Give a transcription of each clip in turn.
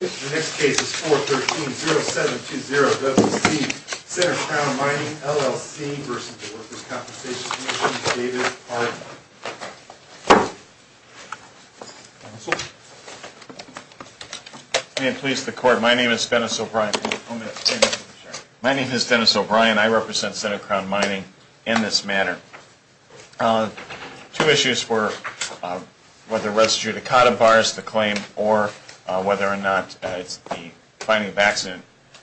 The next case is 413-0720-WC, Senate Crown Mining, LLC v. Workers' Compensation Commission, David Harden. May it please the Court, my name is Dennis O'Brien. I represent Senate Crown Mining in this matter. Two issues were whether res judicata bars the claim or whether or not it's the finding of accident,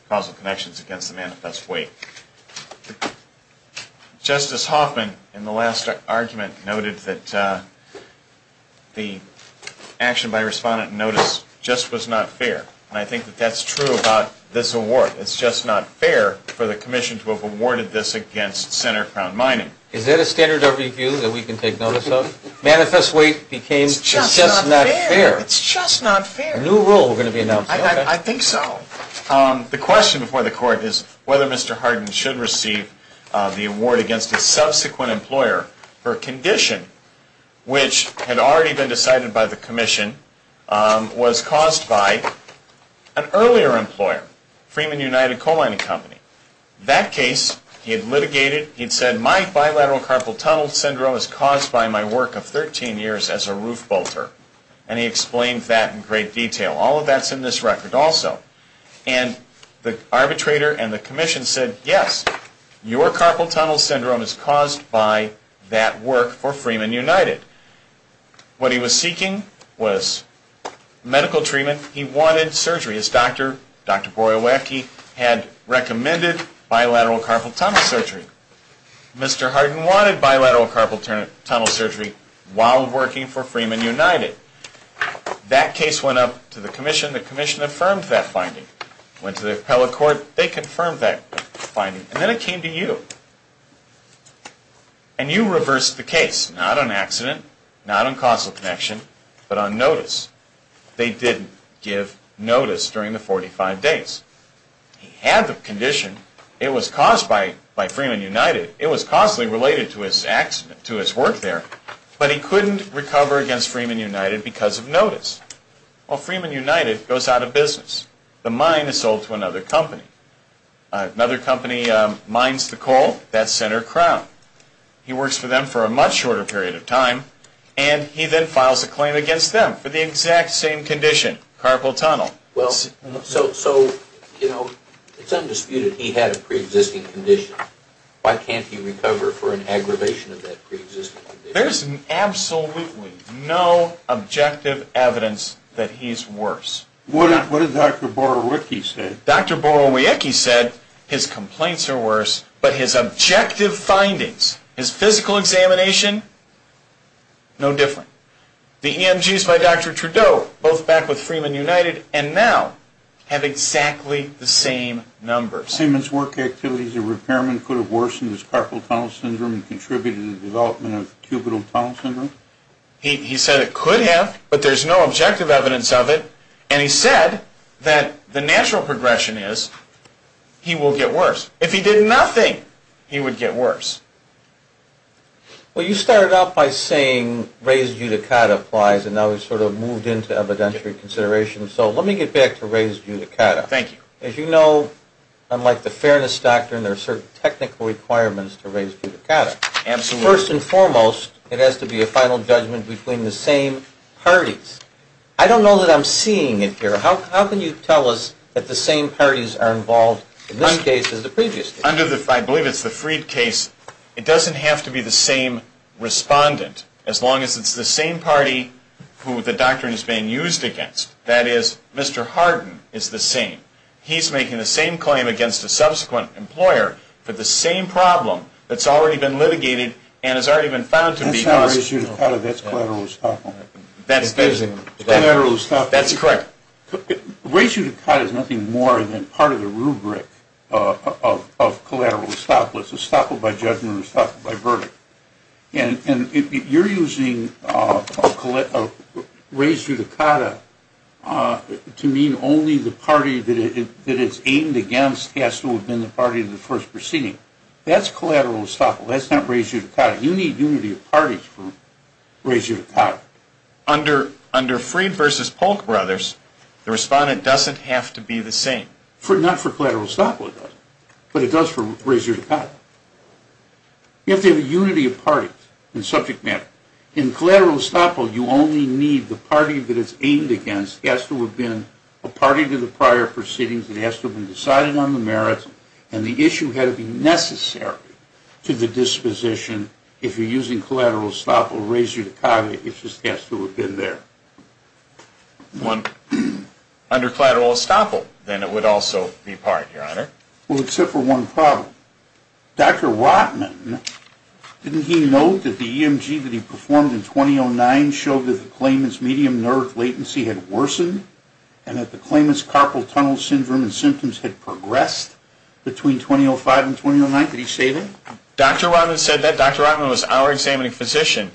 causal connections against the manifest weight. Justice Hoffman, in the last argument, noted that the action by respondent notice just was not fair. And I think that that's true about this award. It's just not fair for the Commission to have awarded this against Senate Crown Mining. Is that a standard of review that we can take notice of? Manifest weight became just not fair. It's just not fair. A new rule is going to be announced. I think so. The question before the Court is whether Mr. Harden should receive the award against a subsequent employer for a condition which had already been decided by the Commission, was caused by an earlier employer, Freeman United Coal Mining Company. That case, he had litigated, he had said, my bilateral carpal tunnel syndrome is caused by my work of 13 years as a roof bolter. And he explained that in great detail. All of that's in this record also. And the arbitrator and the Commission said, yes, your carpal tunnel syndrome is caused by that work for Freeman United. What he was seeking was medical treatment. He wanted surgery. His doctor, Dr. Boyer-Wacky, had recommended bilateral carpal tunnel surgery. Mr. Harden wanted bilateral carpal tunnel surgery while working for Freeman United. That case went up to the Commission. The Commission affirmed that finding. Went to the appellate court. They confirmed that finding. And then it came to you. And you reversed the case. Not on accident. Not on causal connection. But on notice. They didn't give notice during the 45 days. He had the condition. It was caused by Freeman United. It was causally related to his accident, to his work there. But he couldn't recover against Freeman United because of notice. Well, Freeman United goes out of business. The mine is sold to another company. Another company mines the coal. That's Senator Crown. He works for them for a much shorter period of time. And he then files a claim against them for the exact same condition, carpal tunnel. So, you know, it's undisputed he had a preexisting condition. Why can't he recover for an aggravation of that preexisting condition? There's absolutely no objective evidence that he's worse. What did Dr. Boyer-Wacky say? Dr. Boyer-Wacky said his complaints are worse, but his objective findings, his physical examination, no different. The EMGs by Dr. Trudeau, both back with Freeman United, and now have exactly the same numbers. Seaman's work activities and repairmen could have worsened his carpal tunnel syndrome and contributed to the development of cubital tunnel syndrome? He said it could have, but there's no objective evidence of it. And he said that the natural progression is he will get worse. If he did nothing, he would get worse. Well, you started out by saying raised judicata applies, and now we've sort of moved into evidentiary consideration. So let me get back to raised judicata. Thank you. As you know, unlike the fairness doctrine, there are certain technical requirements to raised judicata. Absolutely. First and foremost, it has to be a final judgment between the same parties. I don't know that I'm seeing it here. How can you tell us that the same parties are involved in this case as the previous case? I believe it's the Freed case. It doesn't have to be the same respondent, as long as it's the same party who the doctrine is being used against. That is, Mr. Hardin is the same. He's making the same claim against a subsequent employer for the same problem that's already been litigated That's not raised judicata, that's collateral estoppel. That's correct. Raised judicata is nothing more than part of the rubric of collateral estoppel. It's estoppel by judgment or estoppel by verdict. And you're using raised judicata to mean only the party that it's aimed against has to have been the party in the first proceeding. That's collateral estoppel. That's not raised judicata. You need unity of parties for raised judicata. Under Freed v. Polk Brothers, the respondent doesn't have to be the same. Not for collateral estoppel, it doesn't. But it does for raised judicata. You have to have a unity of parties in subject matter. In collateral estoppel, you only need the party that it's aimed against has to have been a party to the prior proceedings, it has to have been decided on the merits, and the issue had to be necessary to the disposition. If you're using collateral estoppel, raised judicata, it just has to have been there. Under collateral estoppel, then it would also be part, Your Honor. Well, except for one problem. Dr. Rotman, didn't he note that the EMG that he performed in 2009 showed that the claimant's medium nerve latency had worsened and that the claimant's carpal tunnel syndrome and symptoms had progressed between 2005 and 2009? Did he say that? Dr. Rotman said that. Dr. Rotman was our examining physician.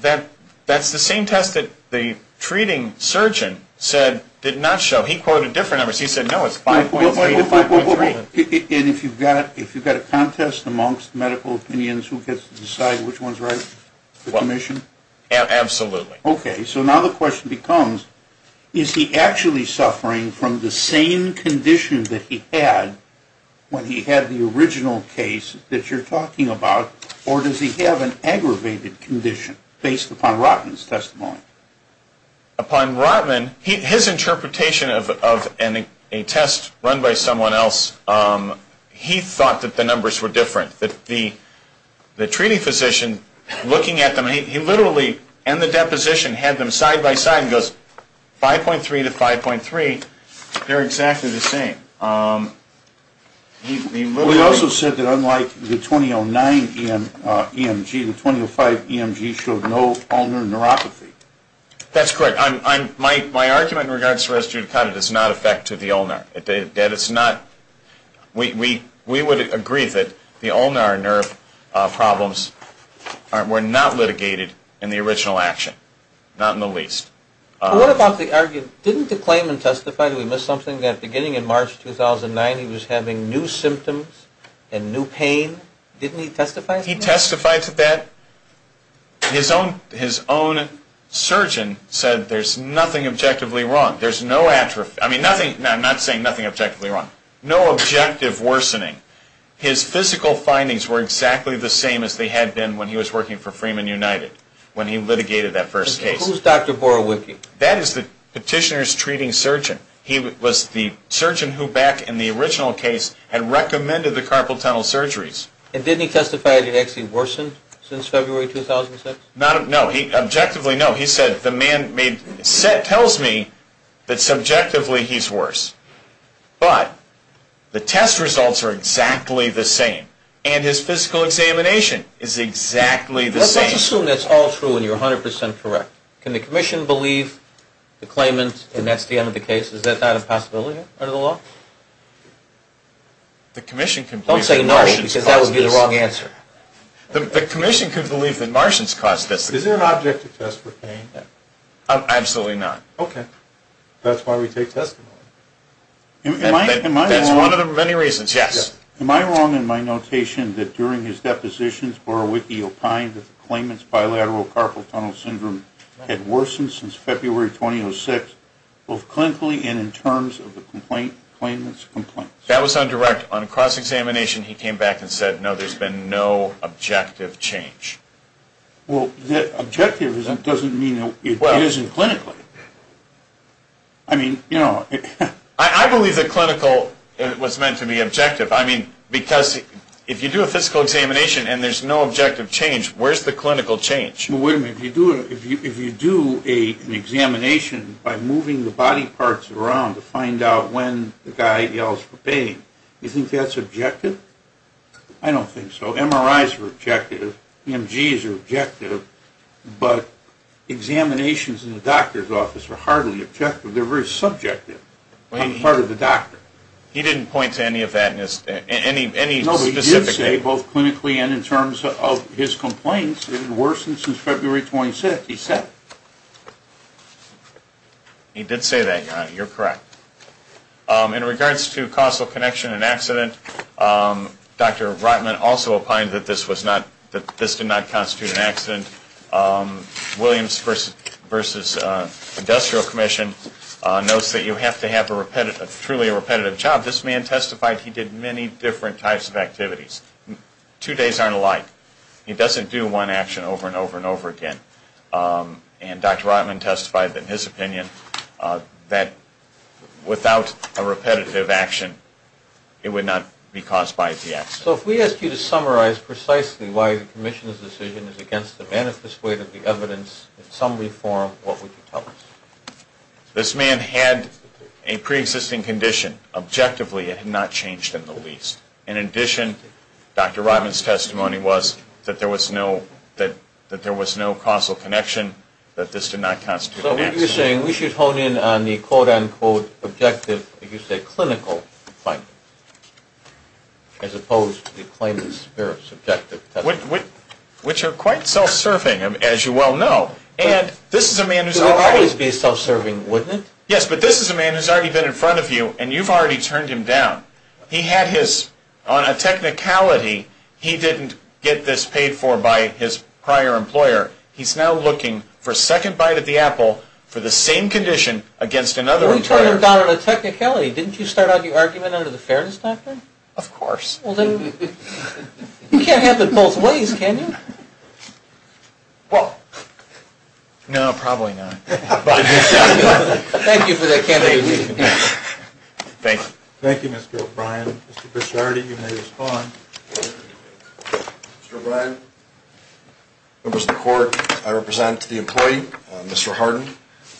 That's the same test that the treating surgeon said did not show. He quoted different numbers. He said, no, it's 5.3 to 5.3. And if you've got a contest amongst medical opinions, who gets to decide which one's right? The commission? Absolutely. Okay. So now the question becomes, is he actually suffering from the same condition that he had when he had the original case that you're talking about, or does he have an aggravated condition based upon Rotman's testimony? Upon Rotman, his interpretation of a test run by someone else, he thought that the numbers were different, that the treating physician looking at them, he literally, in the deposition, had them side by side and goes, 5.3 to 5.3, they're exactly the same. He also said that unlike the 2009 EMG, the 2005 EMG showed no ulnar neuropathy. That's correct. My argument in regards to res judicata does not affect the ulnar. We would agree that the ulnar nerve problems were not litigated in the original action, not in the least. What about the argument, didn't the claimant testify that we missed something, that beginning in March 2009 he was having new symptoms and new pain? Didn't he testify to that? He testified to that. His own surgeon said there's nothing objectively wrong. I'm not saying nothing objectively wrong. No objective worsening. His physical findings were exactly the same as they had been when he was working for Freeman United, when he litigated that first case. Who's Dr. Borowiecki? That is the petitioner's treating surgeon. He was the surgeon who back in the original case had recommended the carpal tunnel surgeries. And didn't he testify that it actually worsened since February 2006? No. Objectively, no. He said the man tells me that subjectively he's worse. But the test results are exactly the same. And his physical examination is exactly the same. Let's assume that's all true and you're 100% correct. Can the commission believe the claimant and that's the end of the case? Is that not a possibility under the law? Don't say no because that would be the wrong answer. The commission could believe that Martians caused this. Is there an object to test for pain? Absolutely not. Okay. That's why we take testimony. That's one of the many reasons, yes. Am I wrong in my notation that during his depositions, Borowiecki opined that the claimant's bilateral carpal tunnel syndrome had worsened since February 2006, both clinically and in terms of the claimant's complaints? That was on direct. On a cross-examination, he came back and said, no, there's been no objective change. Well, objective doesn't mean it isn't clinically. I mean, you know. I believe that clinical was meant to be objective. I mean, because if you do a physical examination and there's no objective change, where's the clinical change? Well, wait a minute. If you do an examination by moving the body parts around to find out when the guy yells for pain, you think that's objective? I don't think so. MRIs are objective. EMGs are objective. But examinations in the doctor's office are hardly objective. They're very subjective on the part of the doctor. He didn't point to any of that in any specific way. No, but he did say, both clinically and in terms of his complaints, it had worsened since February 2006. He said. He did say that, Your Honor. You're correct. In regards to causal connection and accident, Dr. Rotman also opined that this was not, that this did not constitute an accident. Williams v. Industrial Commission notes that you have to have a truly repetitive job. This man testified he did many different types of activities. Two days aren't alike. He doesn't do one action over and over and over again. And Dr. Rotman testified in his opinion that without a repetitive action, it would not be caused by the accident. So if we asked you to summarize precisely why the commission's decision is against the manifest way of the evidence, in some way, form, what would you tell us? This man had a preexisting condition. Objectively, it had not changed in the least. In addition, Dr. Rotman's testimony was that there was no causal connection, that this did not constitute an accident. So what you're saying, we should hone in on the, quote, unquote, objective, if you say clinical, as opposed to the claimant's subjective testimony. Which are quite self-serving, as you well know. And this is a man who's already. It would always be self-serving, wouldn't it? Yes, but this is a man who's already been in front of you, and you've already turned him down. He had his, on a technicality, he didn't get this paid for by his prior employer. He's now looking for a second bite at the apple for the same condition against another employer. Well, you turned him down on a technicality. Didn't you start out your argument under the fairness doctrine? Of course. Well, then, you can't have it both ways, can you? Well, no, probably not. Thank you for that candid review. Thank you. Thank you, Mr. O'Brien. Mr. Bichardi, you may respond. Mr. O'Brien, members of the court, I represent the employee, Mr. Hardin.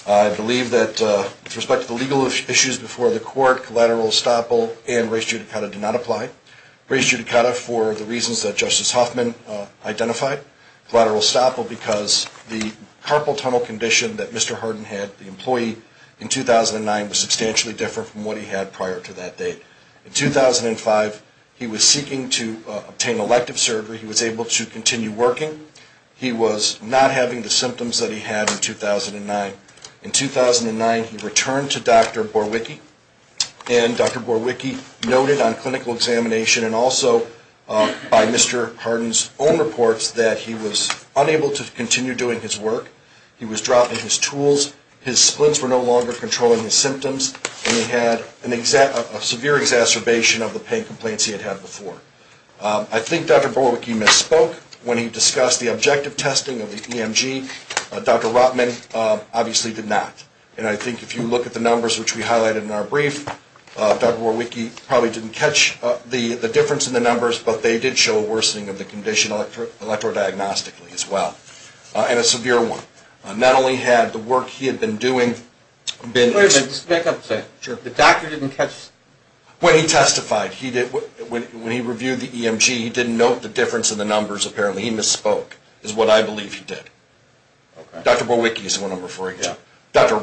I believe that, with respect to the legal issues before the court, collateral estoppel and res judicata did not apply. Res judicata for the reasons that Justice Hoffman identified. Collateral estoppel because the carpal tunnel condition that Mr. Hardin had, the employee, in 2009, was substantially different from what he had prior to that date. In 2005, he was seeking to obtain elective surgery. He was able to continue working. He was not having the symptoms that he had in 2009. In 2009, he returned to Dr. Borwicki, and Dr. Borwicki noted on clinical examination and also by Mr. Hardin's own reports that he was unable to continue doing his work. He was dropping his tools. His splints were no longer controlling his symptoms, and he had a severe exacerbation of the pain complaints he had had before. I think Dr. Borwicki misspoke when he discussed the objective testing of the EMG. Dr. Rotman obviously did not. And I think if you look at the numbers which we highlighted in our brief, Dr. Borwicki probably didn't catch the difference in the numbers, but they did show a worsening of the condition electrodiagnostically as well, and a severe one. Not only had the work he had been doing been- Wait a minute, just to make up a point. Sure. The doctor didn't catch- When he testified, when he reviewed the EMG, he didn't note the difference in the numbers apparently. He misspoke is what I believe he did. Okay. Dr. Borwicki is the one I'm referring to. Yeah. And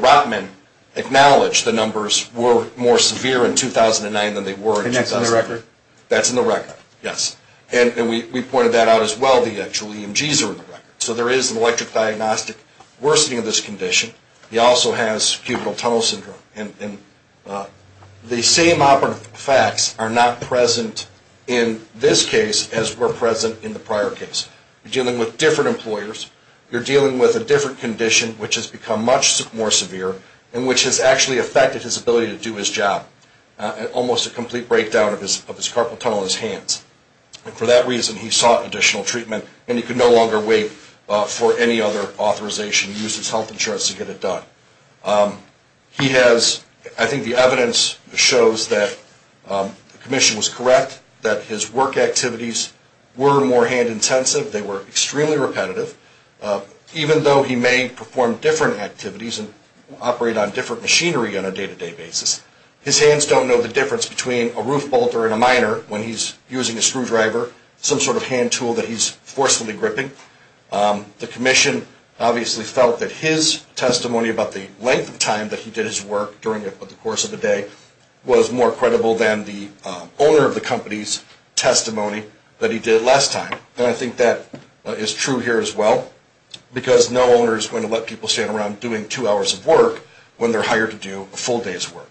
Dr. Rotman acknowledged the numbers were more severe in 2009 than they were in 2000. And that's in the record? That's in the record, yes. And we pointed that out as well, the actual EMGs are in the record. So there is an electrodiagnostic worsening of this condition. He also has cubital tunnel syndrome. And the same operative effects are not present in this case as were present in the prior case. You're dealing with different employers. You're dealing with a different condition, which has become much more severe, and which has actually affected his ability to do his job. Almost a complete breakdown of his carpal tunnel in his hands. And for that reason, he sought additional treatment, and he could no longer wait for any other authorization, use his health insurance to get it done. He has, I think the evidence shows that the commission was correct, that his work activities were more hand intensive. They were extremely repetitive. Even though he may perform different activities and operate on different machinery on a day-to-day basis, his hands don't know the difference between a roof bolter and a miner when he's using a screwdriver, some sort of hand tool that he's forcefully gripping. The commission obviously felt that his testimony about the length of time that he did his work during the course of the day was more credible than the owner of the company's testimony that he did last time. And I think that is true here as well, because no owner is going to let people stand around doing two hours of work when they're hired to do a full day's work.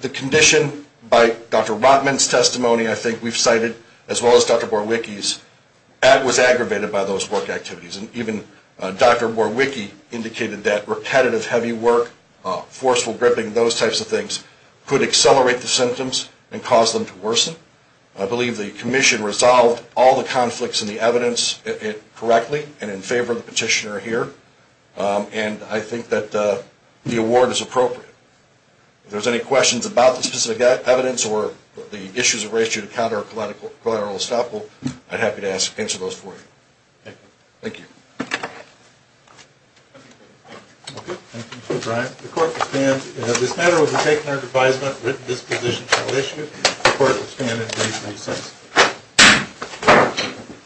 The condition by Dr. Rotman's testimony, I think we've cited, as well as Dr. Borwicki's, was aggravated by those work activities. And even Dr. Borwicki indicated that repetitive, heavy work, forceful gripping, those types of things, could accelerate the symptoms and cause them to worsen. I believe the commission resolved all the conflicts in the evidence correctly and in favor of the petitioner here. And I think that the award is appropriate. If there's any questions about the specific evidence or the issues of ratio to counter collateral estoppel, I'd be happy to answer those for you. Thank you. Thank you. Okay. Thank you, Mr. Bryant. The court will stand. As this matter was taken under advisement, written disposition shall issue. The court will stand at 336.